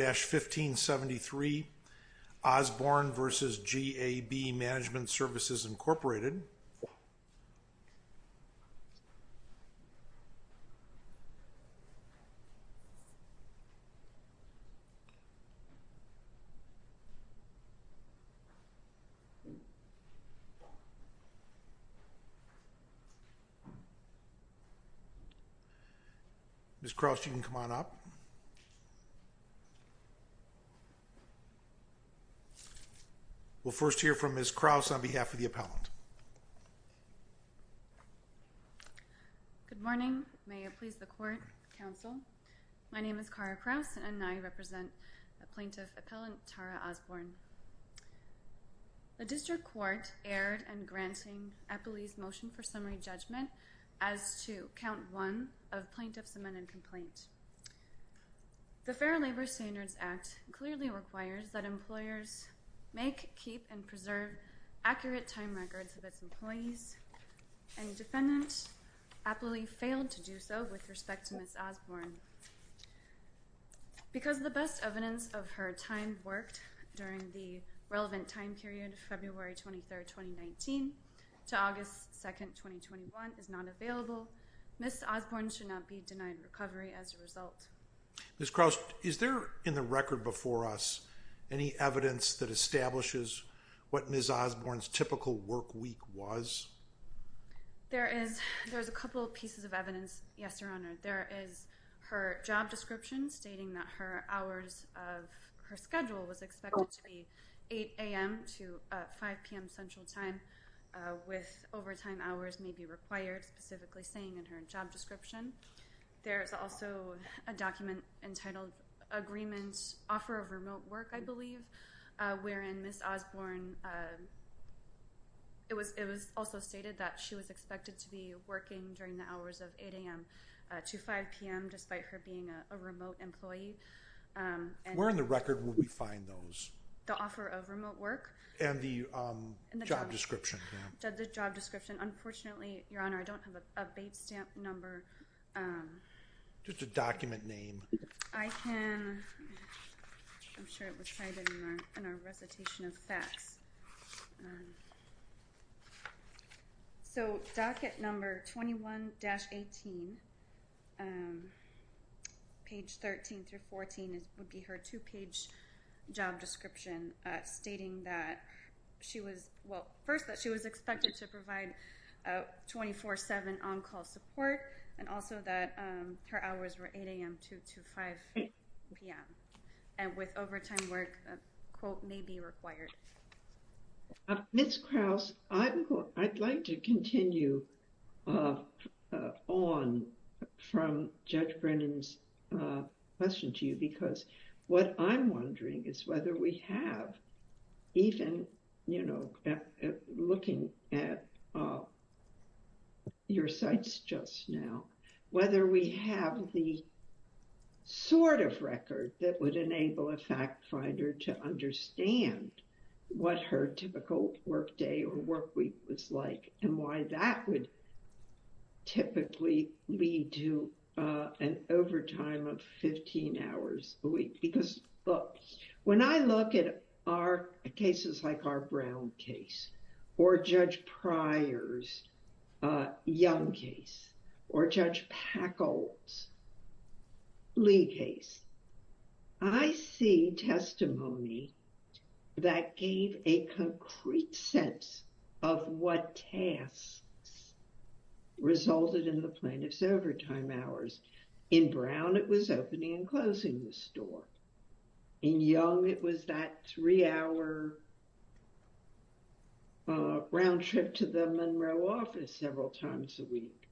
Ms. Crouch, you can come on up. We'll first hear from Ms. Crouch on behalf of the appellant. Good morning, may it please the court, counsel. My name is Cara Crouch and I represent the plaintiff appellant Tara Osborn. The district court erred in granting Eppley's motion for summary judgment as to count one of plaintiff's amendment complaint. The Fair Labor Standards Act clearly requires that employers make, keep, and preserve accurate time records of its employees. And defendant Eppley failed to do so with respect to Ms. Osborn. Because the best evidence of her time worked during the relevant time period, February 23, 2019, to August 2, 2021, is not available. Ms. Osborn should not be denied recovery as a result. Ms. Crouch, is there in the record before us any evidence that establishes what Ms. Osborn's typical work week was? There is a couple pieces of evidence, yes, Your Honor. There is her job description stating that her hours of her schedule was expected to be 8 a.m. to 5 p.m. central time, with overtime hours may be required, specifically saying in her job description. There is also a document entitled Agreement Offer of Remote Work, I believe, wherein Ms. Osborn, it was also stated that she was expected to be working during the hours of 8 a.m. to 5 p.m. despite her being a remote employee. Where in the record would we find those? The Offer of Remote Work. And the job description. The job description. Unfortunately, Your Honor, I don't have a BAPE stamp number. Just a document name. I can, I'm sure it was cited in our recitation of facts. So, docket number 21-18, page 13 through 14 would be her two-page job description stating that she was, well, first that she was expected to provide 24-7 on-call support, and also that her hours were 8 a.m. to 5 p.m., and with overtime work, quote, may be required. Ms. Krause, I'd like to continue on from Judge Brennan's question to you, because what I'm wondering is whether we have, even, you know, looking at your cites just now, whether we have the sort of record that would enable a fact finder to understand what her typical work day or work week was like, and why that would typically lead to an overtime of 15 hours a week. Because, look, when I look at our cases like our Brown case, or Judge Pryor's Young case, or Judge Packold's Lee case, I see testimony that gave a concrete sense of what tasks resulted in the plaintiff's overtime hours. In Brown, it was opening and closing the store. In Young, it was that three-hour round trip to the Monroe office several times a week,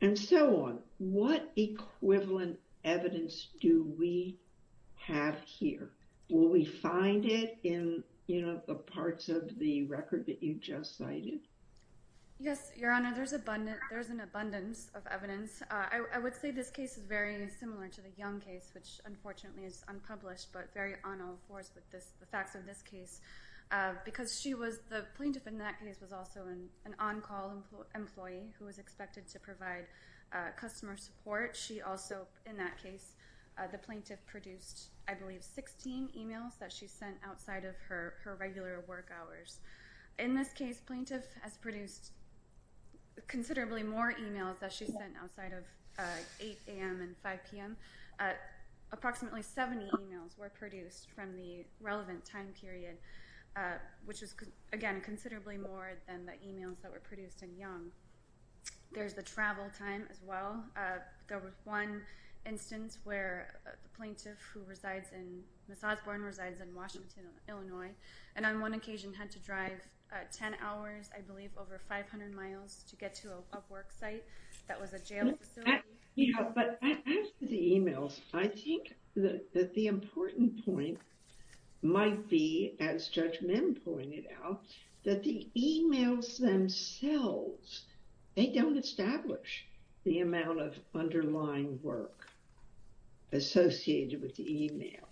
and so on. What equivalent evidence do we have here? Will we find it in, you know, the parts of the record that you just cited? Yes, Your Honor, there's an abundance of evidence. I would say this case is very similar to the Young case, which, unfortunately, is unpublished, but very on all fours with the facts of this case. Because the plaintiff in that case was also an on-call employee who was expected to provide customer support. She also, in that case, the plaintiff produced, I believe, 16 emails that she sent outside of her regular work hours. In this case, plaintiff has produced considerably more emails that she sent outside of 8 a.m. and 5 p.m. Approximately 70 emails were produced from the relevant time period, which was, again, considerably more than the emails that were produced in Young. There's the travel time as well. There was one instance where the plaintiff who resides in Miss Osborne resides in Washington, Illinois, and on one occasion had to drive 10 hours, I believe, over 500 miles to get to a work site that was a jail facility. But after the emails, I think that the important point might be, as Judge Mim pointed out, that the emails themselves, they don't establish the amount of underlying work associated with the emails.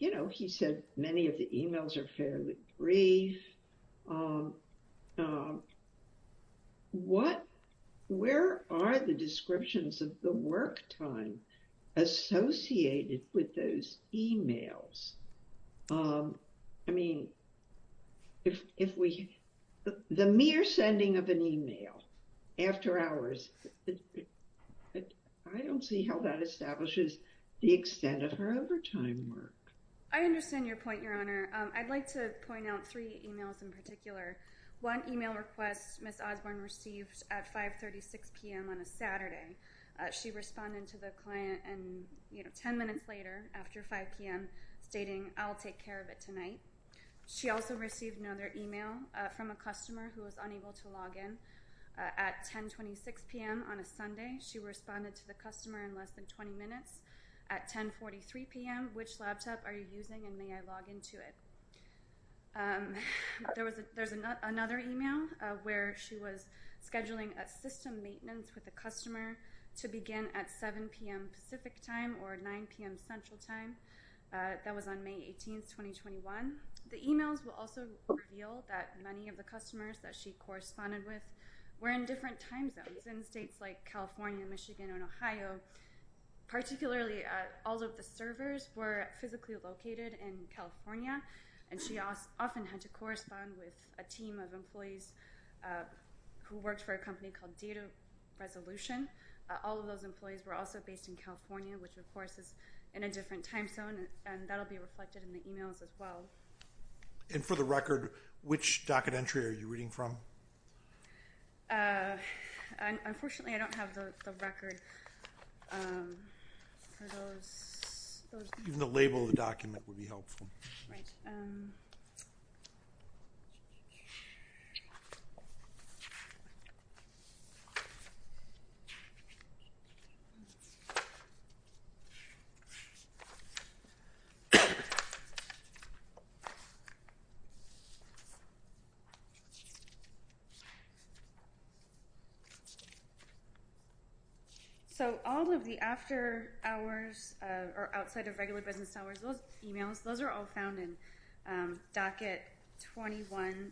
You know, he said many of the emails are fairly brief. Where are the descriptions of the work time associated with those emails? I mean, the mere sending of an email after hours, I don't see how that establishes the extent of her overtime work. I understand your point, Your Honor. I'd like to point out three emails in particular. One email request Miss Osborne received at 5.36 p.m. on a Saturday. She responded to the client 10 minutes later after 5 p.m. stating, I'll take care of it tonight. She also received another email from a customer who was unable to log in at 10.26 p.m. on a Sunday. She responded to the customer in less than 20 minutes at 10.43 p.m. Which laptop are you using and may I log into it? There was another email where she was scheduling a system maintenance with a customer to begin at 7 p.m. Pacific time or 9 p.m. Central time. That was on May 18, 2021. The emails will also reveal that many of the customers that she corresponded with were in different time zones. In states like California, Michigan, and Ohio, particularly all of the servers were physically located in California. And she often had to correspond with a team of employees who worked for a company called Data Resolution. All of those employees were also based in California, which of course is in a different time zone. And that will be reflected in the emails as well. And for the record, which docket entry are you reading from? Unfortunately, I don't have the record for those. The label of the document would be helpful. Right. So all of the after hours or outside of regular business hours, those emails, those are all found in docket 21-17.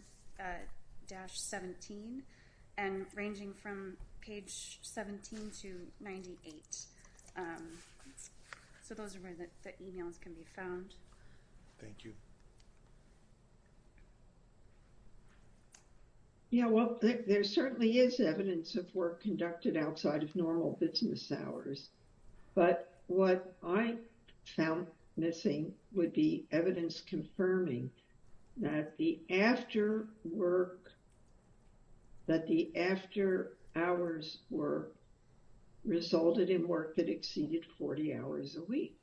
And ranging from page 17 to 98. So those are where the emails can be found. Thank you. Yeah, well, there certainly is evidence of work conducted outside of normal business hours. But what I found missing would be evidence confirming that the after work, that the after hours were resulted in work that exceeded 40 hours a week.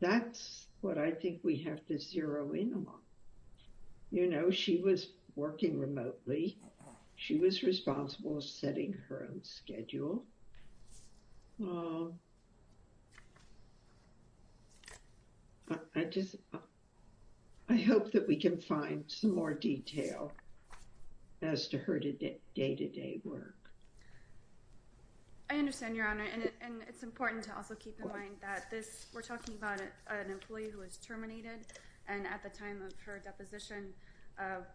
That's what I think we have to zero in on. You know, she was working remotely. She was responsible for setting her own schedule. I just, I hope that we can find some more detail as to her day-to-day work. I understand, Your Honor. And it's important to also keep in mind that this, we're talking about an employee who was terminated. And at the time of her deposition,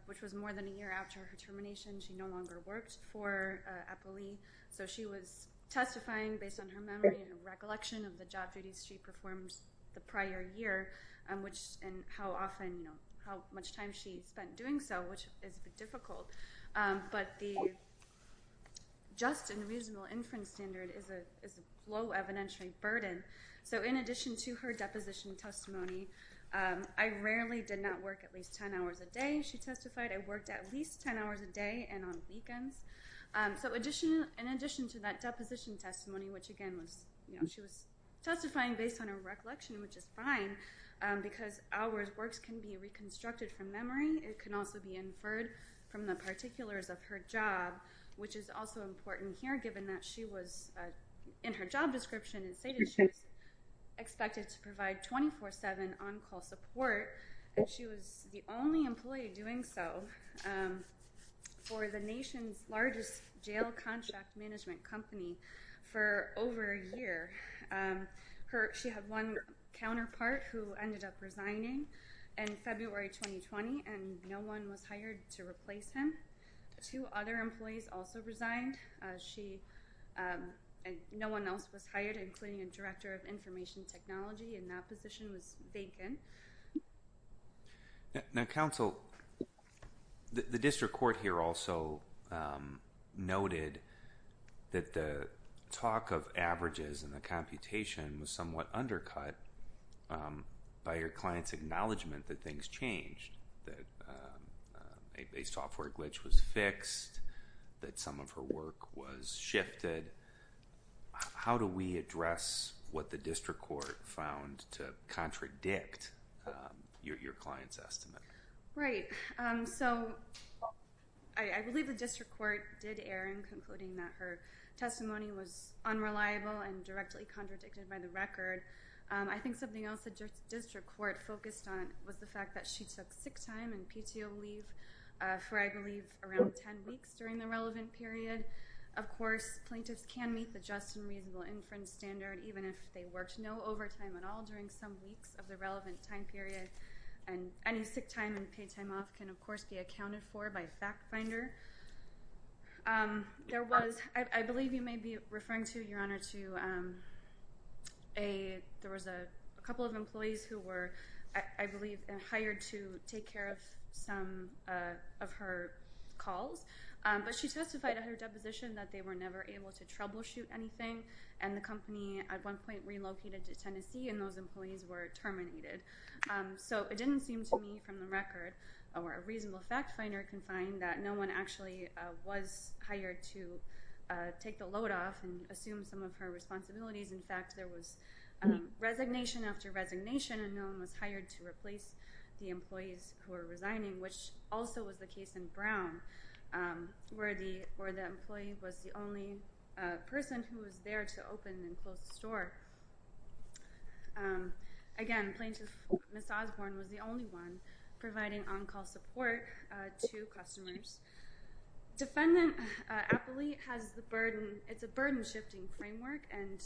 which was more than a year after her termination, she no longer worked for Epoly. So she was testifying based on her memory and recollection of the job duties she performed the prior year. And how often, how much time she spent doing so, which is a bit difficult. But the just and reasonable inference standard is a low evidentiary burden. So in addition to her deposition testimony, I rarely did not work at least 10 hours a day, she testified. I worked at least 10 hours a day and on weekends. So in addition to that deposition testimony, which again was, you know, she was testifying based on her recollection, which is fine. Because hours works can be reconstructed from memory. It can also be inferred from the particulars of her job, which is also important here, given that she was in her job description and stated she was expected to provide 24-7 on-call support. And she was the only employee doing so for the nation's largest jail contract management company for over a year. She had one counterpart who ended up resigning in February 2020, and no one was hired to replace him. Two other employees also resigned. No one else was hired, including a director of information technology, and that position was vacant. Now, counsel, the district court here also noted that the talk of averages and the computation was somewhat undercut by your client's acknowledgement that things changed, that a software glitch was fixed, that some of her work was shifted. How do we address what the district court found to contradict your client's estimate? Right. So I believe the district court did err in concluding that her testimony was unreliable and directly contradicted by the record. I think something else the district court focused on was the fact that she took sick time and PTO leave for, I believe, around 10 weeks during the relevant period. Of course, plaintiffs can meet the just and reasonable inference standard, even if they worked no overtime at all during some weeks of the relevant time period. And any sick time and paid time off can, of course, be accounted for by FactFinder. There was – I believe you may be referring to, Your Honor, to a – there was a couple of employees who were, I believe, hired to take care of some of her calls. But she testified at her deposition that they were never able to troubleshoot anything, and the company at one point relocated to Tennessee, and those employees were terminated. So it didn't seem to me from the record, or a reasonable FactFinder can find, that no one actually was hired to take the load off and assume some of her responsibilities. In fact, there was resignation after resignation, and no one was hired to replace the employees who were resigning, which also was the case in Brown, where the employee was the only person who was there to open and close the store. Again, Plaintiff Ms. Osborne was the only one providing on-call support to customers. Defendant Appley has the burden – it's a burden-shifting framework, and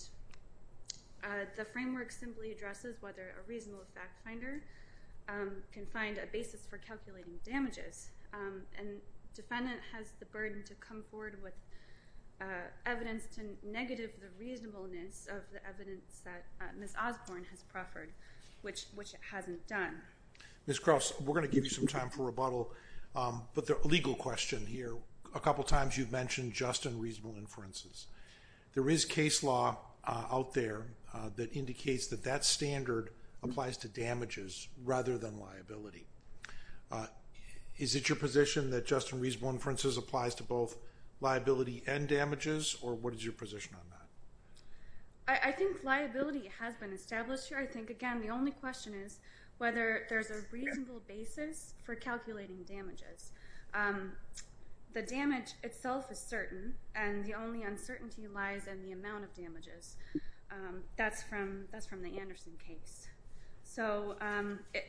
the framework simply addresses whether a reasonable FactFinder can find a basis for calculating damages. And defendant has the burden to come forward with evidence to negative the reasonableness of the evidence that Ms. Osborne has proffered, which it hasn't done. Ms. Cross, we're going to give you some time for rebuttal, but the legal question here, a couple times you've mentioned just and reasonable inferences. There is case law out there that indicates that that standard applies to damages rather than liability. Is it your position that just and reasonable inferences applies to both liability and damages, or what is your position on that? I think liability has been established here. I think, again, the only question is whether there's a reasonable basis for calculating damages. The damage itself is certain, and the only uncertainty lies in the amount of damages. That's from the Anderson case. So,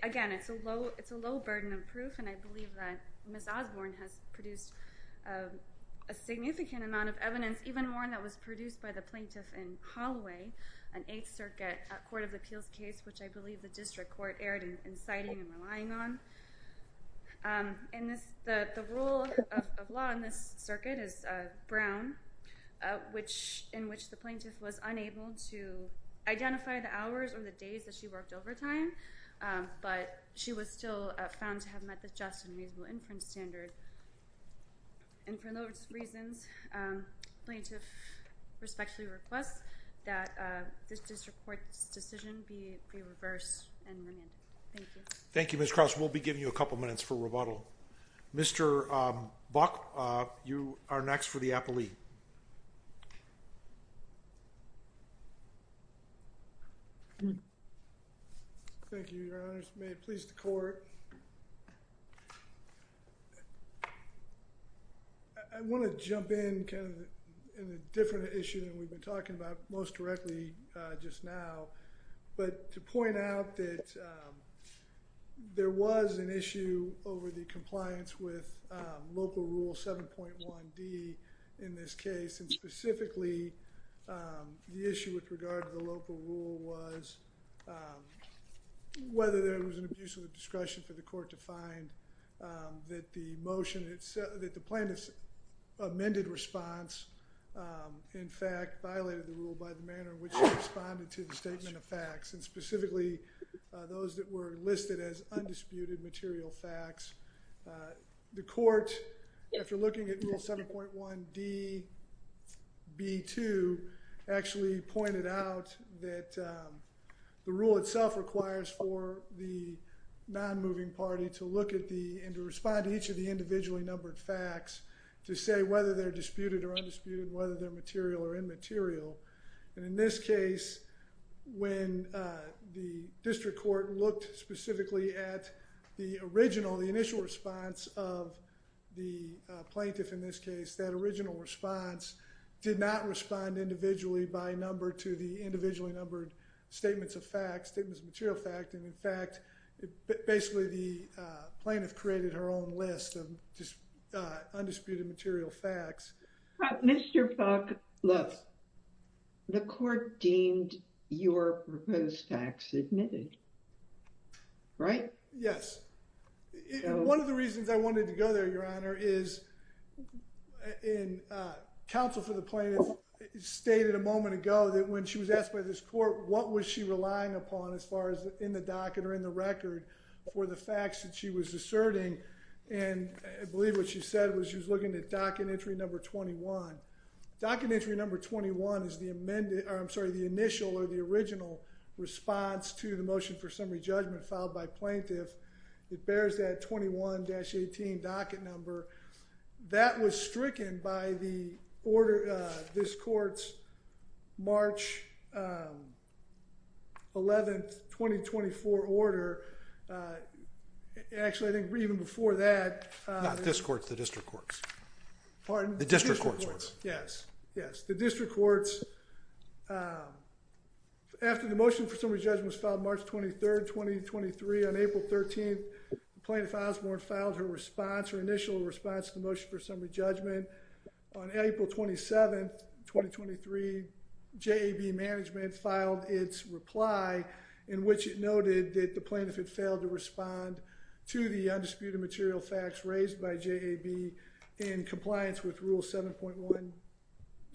again, it's a low burden of proof, and I believe that Ms. Osborne has produced a significant amount of evidence, even one that was produced by the plaintiff in Holloway, an Eighth Circuit Court of Appeals case, which I believe the district court erred in citing and relying on. And the rule of law in this circuit is Brown, in which the plaintiff was unable to identify the hours or the days that she worked overtime, but she was still found to have met the just and reasonable inference standard. And for those reasons, the plaintiff respectfully requests that this district court's decision be reversed and remanded. Thank you. Thank you, Ms. Cross. We'll be giving you a couple minutes for rebuttal. Mr. Buck, you are next for the appellee. Thank you, Your Honors. May it please the Court. I want to jump in kind of in a different issue than we've been talking about most directly just now, but to point out that there was an issue over the compliance with Local Rule 7.1D in this case, and specifically the issue with regard to the local rule was whether there was an abuse of the discretion for the court to find that the motion, that the plaintiff's amended response in fact violated the rule by the manner in which it responded to the statement of facts, and specifically those that were listed as undisputed material facts. The court, after looking at Rule 7.1DB2, actually pointed out that the rule itself requires for the non-moving party to look at the, and to respond to each of the individually numbered facts to say whether they're disputed or undisputed, whether they're material or immaterial. And in this case, when the district court looked specifically at the original, the initial response of the plaintiff in this case, that original response did not respond individually by number to the individually numbered statements of facts, statements of material facts, and in fact, basically the plaintiff created her own list of undisputed material facts. Mr. Buck, look, the court deemed your proposed facts admitted, right? Yes. And one of the reasons I wanted to go there, Your Honor, is in counsel for the plaintiff stated a moment ago that when she was asked by this court, what was she relying upon as far as in the docket or in the record for the facts that she was asserting, and I believe what she said was she was looking at docket entry number 21. Docket entry number 21 is the amended, or I'm sorry, the initial or the original response to the motion for summary judgment filed by plaintiff. It bears that 21-18 docket number. That was stricken by this court's March 11, 2024 order. Actually, I think even before that. Not this court, the district courts. Pardon? The district courts. Yes, yes. The district courts, after the motion for summary judgment was filed March 23rd, 2023, on April 13th, the plaintiff Osborne filed her response, her initial response to the motion for summary judgment. On April 27th, 2023, JAB management filed its reply in which it noted that the plaintiff had failed to respond to the undisputed material facts raised by JAB in compliance with rule 7.1,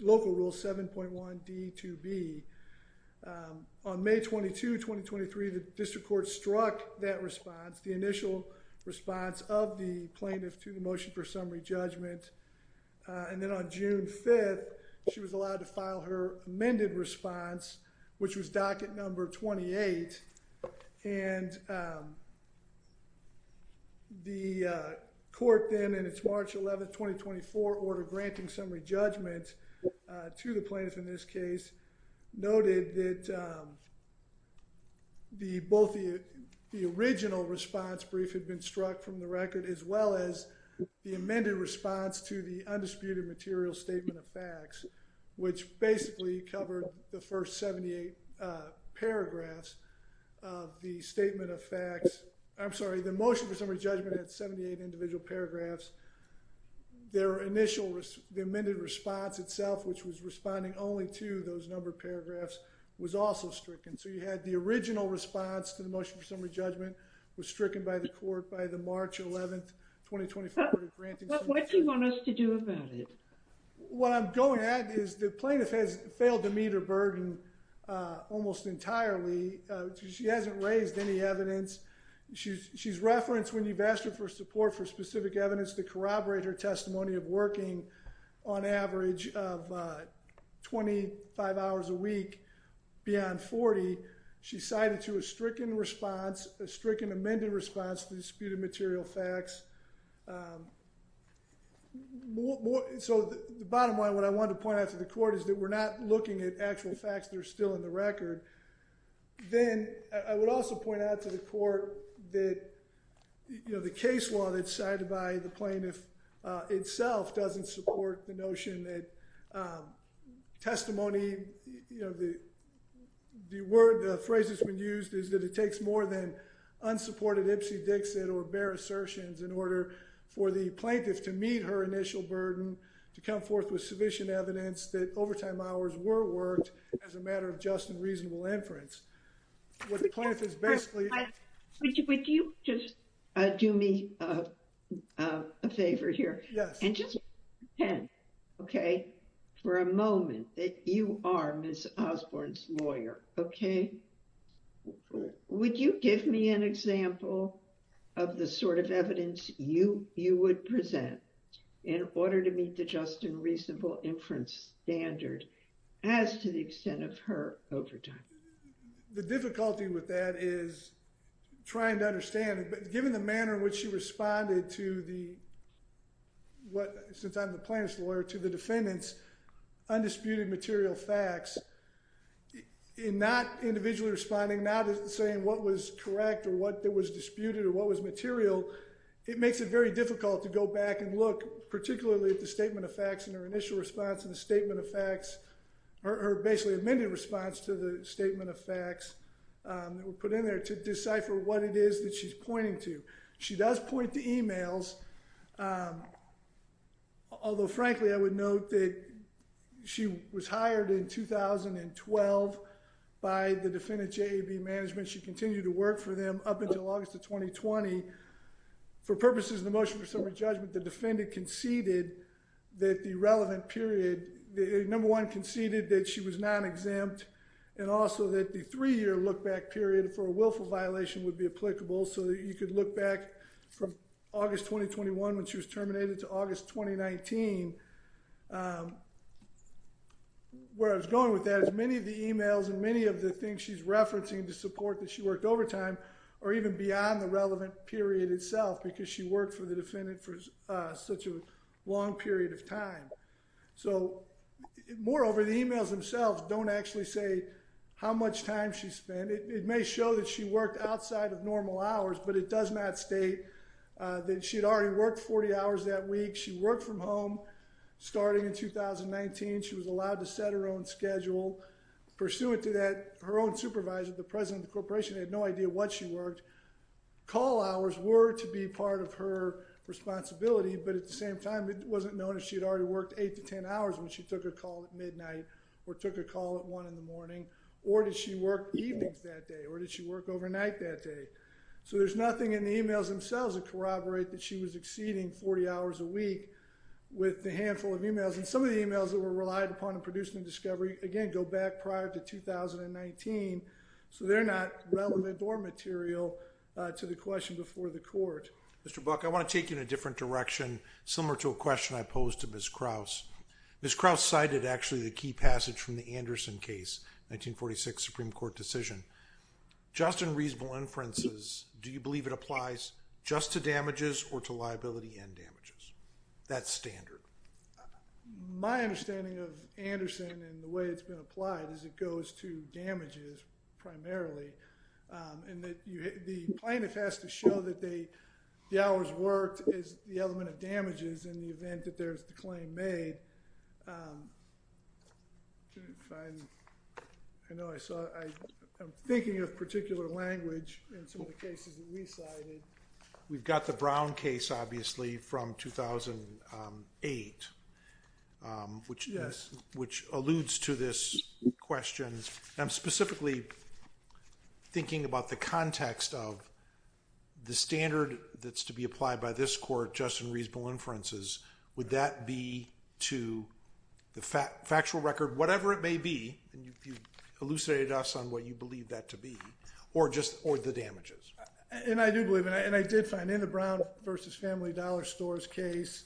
local rule 7.1 D2B. On May 22, 2023, the district courts struck that response, the initial response of the plaintiff to the motion for summary judgment. And then on June 5th, she was allowed to file her amended response, which was docket number 28. And the court then, in its March 11, 2024 order granting summary judgment to the plaintiff in this case, noted that both the original response brief had been struck from the record, as well as the amended response to the undisputed material statement of facts, which basically covered the first 78 paragraphs of the statement of facts. I'm sorry, the motion for summary judgment had 78 individual paragraphs. Their initial, the amended response itself, which was responding only to those number of paragraphs, was also stricken. So you had the original response to the motion for summary judgment was stricken by the court by the March 11, What do you want us to do about it? What I'm going at is the plaintiff has failed to meet her burden almost entirely. She hasn't raised any evidence. She's referenced when you've asked her for support for specific evidence to corroborate her testimony of working on average of 25 hours a week beyond 40. She cited to a stricken response, a stricken amended response to the disputed material facts. So the bottom line, what I want to point out to the court is that we're not looking at actual facts that are still in the record. Then I would also point out to the court that, you know, the case law that's cited by the plaintiff itself doesn't support the notion that testimony, you know, the word, the phrase that's been used is that it takes more than unsupported Ipsy Dixit or bare assertions in order for the plaintiff to meet her initial burden to come forth with sufficient evidence that overtime hours were worked as a matter of just and reasonable inference. What the plaintiff is basically... Would you just do me a favor here? Yes. And just pretend, okay, for a moment that you are Ms. Osborne's lawyer, okay? Would you give me an example of the sort of evidence you would present in order to meet the just and reasonable inference standard as to the extent of her overtime? The difficulty with that is trying to understand, given the manner in which she responded to the, since I'm the plaintiff's lawyer, to the defendant's undisputed material facts, in not individually responding, not saying what was correct or what was disputed or what was material, it makes it very difficult to go back and look particularly at the statement of facts and her initial response to the statement of facts, her basically amended response to the statement of facts that were put in there to decipher what it is that she's pointing to. She does point to emails, although frankly I would note that she was hired in 2012 by the defendant's JAB management. She continued to work for them up until August of 2020. For purposes of the motion for summary judgment, the defendant conceded that the relevant period, number one, conceded that she was non-exempt and also that the three-year look-back period for a willful violation would be applicable so that you could look back from August 2021 when she was terminated to August 2019. Where I was going with that is many of the emails and many of the things she's referencing to support that she worked overtime are even beyond the relevant period itself because she worked for the defendant for such a long period of time. So moreover, the emails themselves don't actually say how much time she spent. It may show that she worked outside of normal hours, but it does not state that she had already worked 40 hours that week. She worked from home starting in 2019. She was allowed to set her own schedule. Pursuant to that, her own supervisor, the president of the corporation, had no idea what she worked. Call hours were to be part of her responsibility, but at the same time, it wasn't known if she had already worked eight to ten hours when she took a call at midnight or took a call at one in the morning or did she work evenings that day or did she work overnight that day. So there's nothing in the emails themselves that corroborate that she was exceeding 40 hours a week with the handful of emails. And some of the emails that were relied upon in producing the discovery, again, go back prior to 2019. So they're not relevant or material to the question before the court. Mr. Buck, I want to take you in a different direction, similar to a question I posed to Ms. Krause. Ms. Krause cited actually the key passage from the Anderson case, 1946 Supreme Court decision. Just in reasonable inferences, do you believe it applies just to damages or to liability and damages? That's standard. My understanding of Anderson and the way it's been applied is it goes to damages primarily. And the plaintiff has to show that the hours worked is the element of damages in the event that there's the claim made. I'm thinking of particular language in some of the cases that we cited. We've got the Brown case, obviously, from 2008, which alludes to this question. I'm specifically thinking about the context of the standard that's to be applied by this court just in reasonable inferences. Would that be to the factual record, whatever it may be, and you've elucidated us on what you believe that to be, or just the damages? And I do believe, and I did find in the Brown v. Family Dollar Stores case,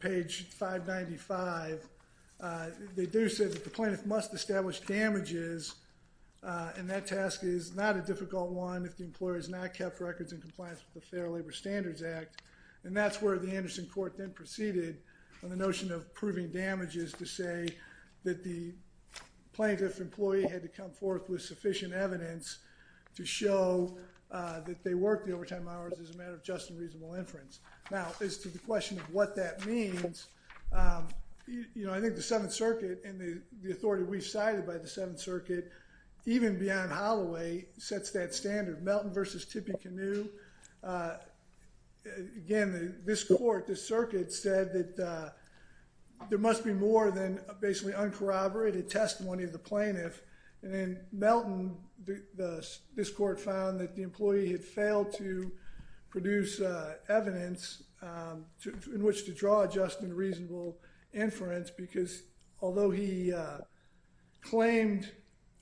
page 595, they do say that the plaintiff must establish damages, and that task is not a difficult one if the employer has not kept records in compliance with the Fair Labor Standards Act. And that's where the Anderson court then proceeded on the notion of proving damages to say that the plaintiff employee had to come forth with sufficient evidence to show that they worked the overtime hours as a matter of just and reasonable inference. Now, as to the question of what that means, you know, I think the Seventh Circuit and the authority we've cited by the Seventh Circuit, even beyond Holloway, sets that standard. Melton v. Tippecanoe, again, this court, this circuit said that there must be more than basically uncorroborated testimony of the plaintiff. And then Melton, this court found that the employee had failed to produce evidence in which to draw just and reasonable inference because although he claimed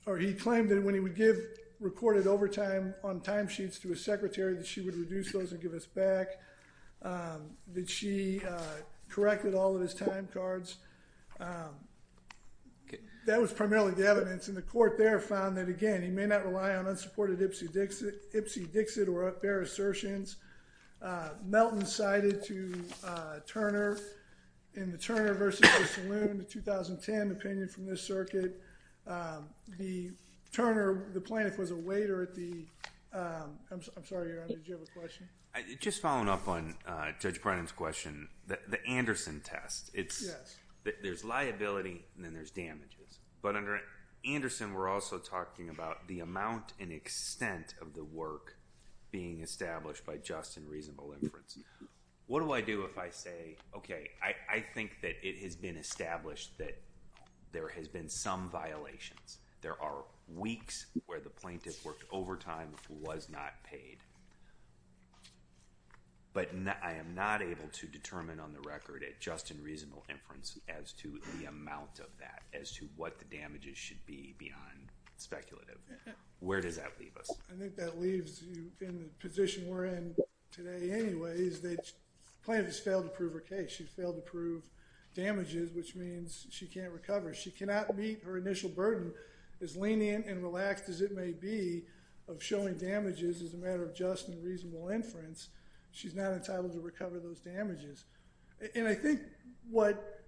that when he would give recorded overtime on timesheets to his secretary that she would reduce those and give us back, that she corrected all of his time cards, that was primarily the evidence. And the court there found that, again, he may not rely on unsupported Ipsy Dixit or fair assertions. Melton cited to Turner in the Turner v. O'Salloon in the 2010 opinion from this circuit, the Turner, the plaintiff was a waiter at the, I'm sorry, did you have a question? Just following up on Judge Brennan's question, the Anderson test, there's liability and then there's damages. But under Anderson, we're also talking about the amount and extent of the work being established by just and reasonable inference. What do I do if I say, okay, I think that it has been established that there has been some violations. There are weeks where the plaintiff worked overtime, was not paid. But I am not able to determine on the record at just and reasonable inference as to the amount of that, as to what the damages should be beyond speculative. Where does that leave us? I think that leaves you in the position we're in today anyways. The plaintiff has failed to prove her case. She failed to prove damages, which means she can't recover. She cannot meet her initial burden, as lenient and relaxed as it may be, of showing damages as a matter of just and reasonable inference. She's not entitled to recover those damages. And I think what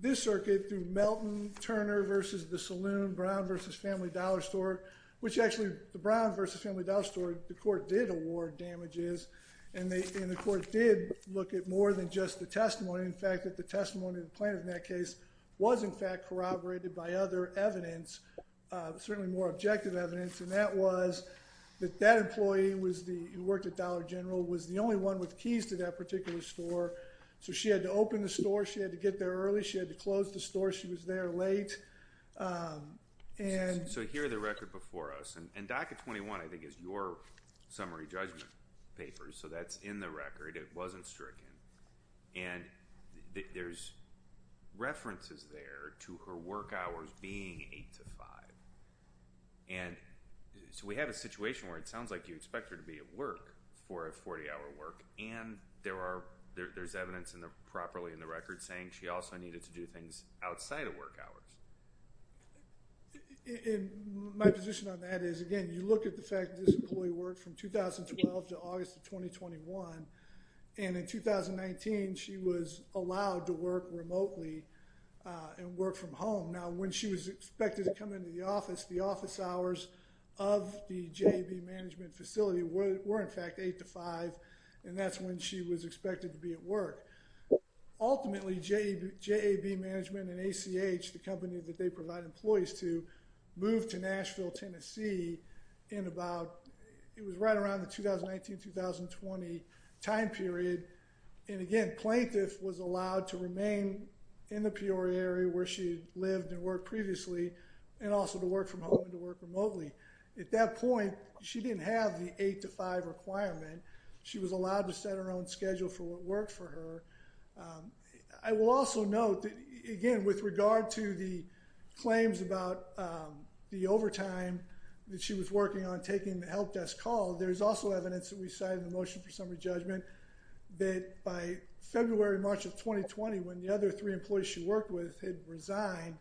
this circuit, through Melton, Turner v. O'Salloon, Brown v. Family Dollar Store, which actually the Brown v. Family Dollar Store, the court did award damages. And the court did look at more than just the testimony. In fact, that the testimony of the plaintiff in that case was, in fact, corroborated by other evidence, certainly more objective evidence. And that was that that employee who worked at Dollar General was the only one with keys to that particular store. So she had to open the store. She had to get there early. She had to close the store. She was there late. And... So here are the records before us. And DACA 21, I think, is your summary judgment paper. So that's in the record. It wasn't stricken. And there's references there to her work hours being 8 to 5. And so we have a situation where it sounds like you expect her to be at work for a 40-hour work. And there's evidence properly in the record saying she also needed to do things outside of work hours. And my position on that is, again, you look at the fact that this employee worked from 2012 to August of 2021. And in 2019, she was allowed to work remotely and work from home. Now, when she was expected to come into the office, the office hours of the JAB management facility were, in fact, 8 to 5. And that's when she was expected to be at work. Ultimately, JAB management and ACH, the company that they provide employees to, moved to Nashville, Tennessee in about... It was right around the 2019-2020 time period. And, again, plaintiff was allowed to remain in the Peoria area where she had lived and worked previously and also to work from home and to work remotely. At that point, she didn't have the 8 to 5 requirement. She was allowed to set her own schedule for what worked for her. I will also note that, again, with regard to the claims about the overtime that she was working on taking the help desk call... There's also evidence that we cited in the Motion for Summary Judgment that by February, March of 2020, when the other three employees she worked with had resigned...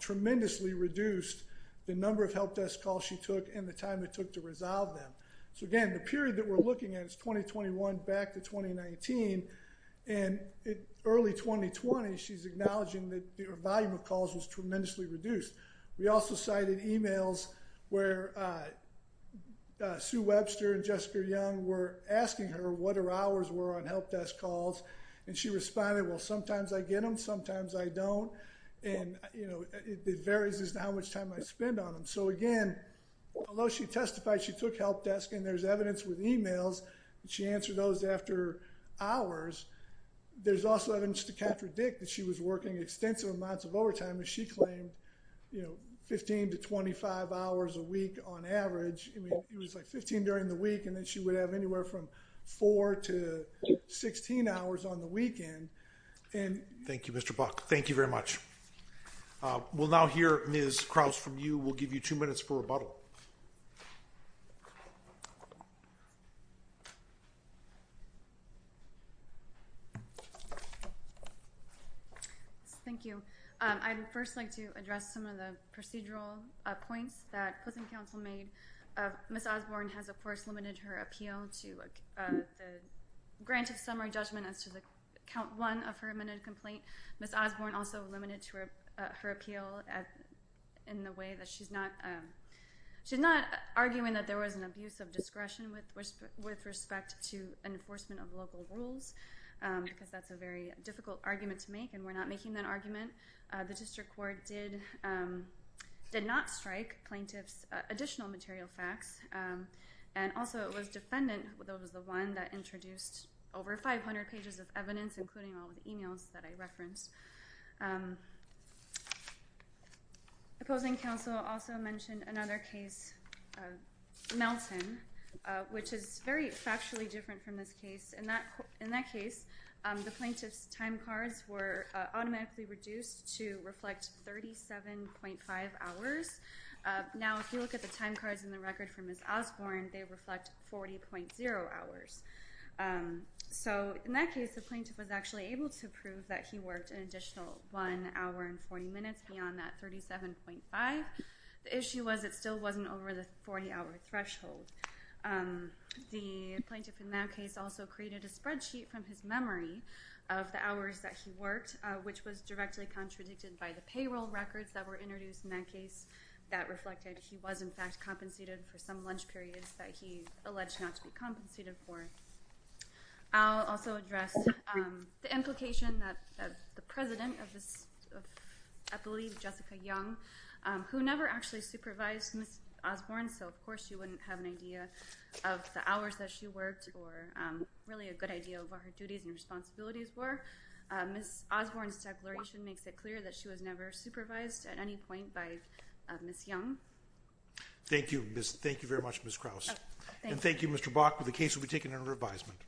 tremendously reduced the number of help desk calls she took and the time it took to resolve them. So, again, the period that we're looking at is 2021 back to 2019. And, early 2020, she's acknowledging that the volume of calls was tremendously reduced. We also cited emails where Sue Webster and Jessica Young were asking her what her hours were on help desk calls. And, she responded, well sometimes I get them, sometimes I don't. And, you know, it varies as to how much time I spend on them. So, again, although she testified she took help desk and there's evidence with emails and she answered those after hours... There's also evidence to contradict that she was working extensive amounts of overtime as she claimed. You know, 15 to 25 hours a week on average. I mean, it was like 15 during the week and then she would have anywhere from 4 to 16 hours on the weekend. Thank you, Mr. Buck. Thank you very much. We'll now hear Ms. Krause from you. We'll give you two minutes for rebuttal. Thank you. I would first like to address some of the procedural points that prison counsel made. Ms. Osborne has, of course, limited her appeal to the grant of summary judgment as to the count one of her amended complaint. Ms. Osborne also limited her appeal in the way that she's not... She's not arguing that there was an abuse of discretion with respect to enforcement of local rules. Because, that's a very difficult argument to make and we're not making that argument. The district court did not strike plaintiff's additional material facts. And also, it was defendant that was the one that introduced over 500 pages of evidence, including all the emails that I referenced. Opposing counsel also mentioned another case, Melton, which is very factually different from this case. In that case, the plaintiff's time cards were automatically reduced to reflect 37.5 hours. Now, if you look at the time cards in the record for Ms. Osborne, they reflect 40.0 hours. So, in that case, the plaintiff was actually able to prove that he worked an additional one hour and 40 minutes beyond that 37.5. The issue was it still wasn't over the 40-hour threshold. The plaintiff in that case also created a spreadsheet from his memory of the hours that he worked, which was directly contradicted by the payroll records that were introduced in that case that reflected he was, in fact, compensated for some lunch periods that he alleged not to be compensated for. I'll also address the implication that the president of this, I believe, Jessica Young, who never actually supervised Ms. Osborne, so, of course, she wouldn't have an idea of the hours that she worked or really a good idea of what her duties and responsibilities were. Ms. Osborne's declaration makes it clear that she was never supervised at any point by Ms. Young. Thank you. Thank you very much, Ms. Krause. And thank you, Mr. Bach, but the case will be taken under advisement.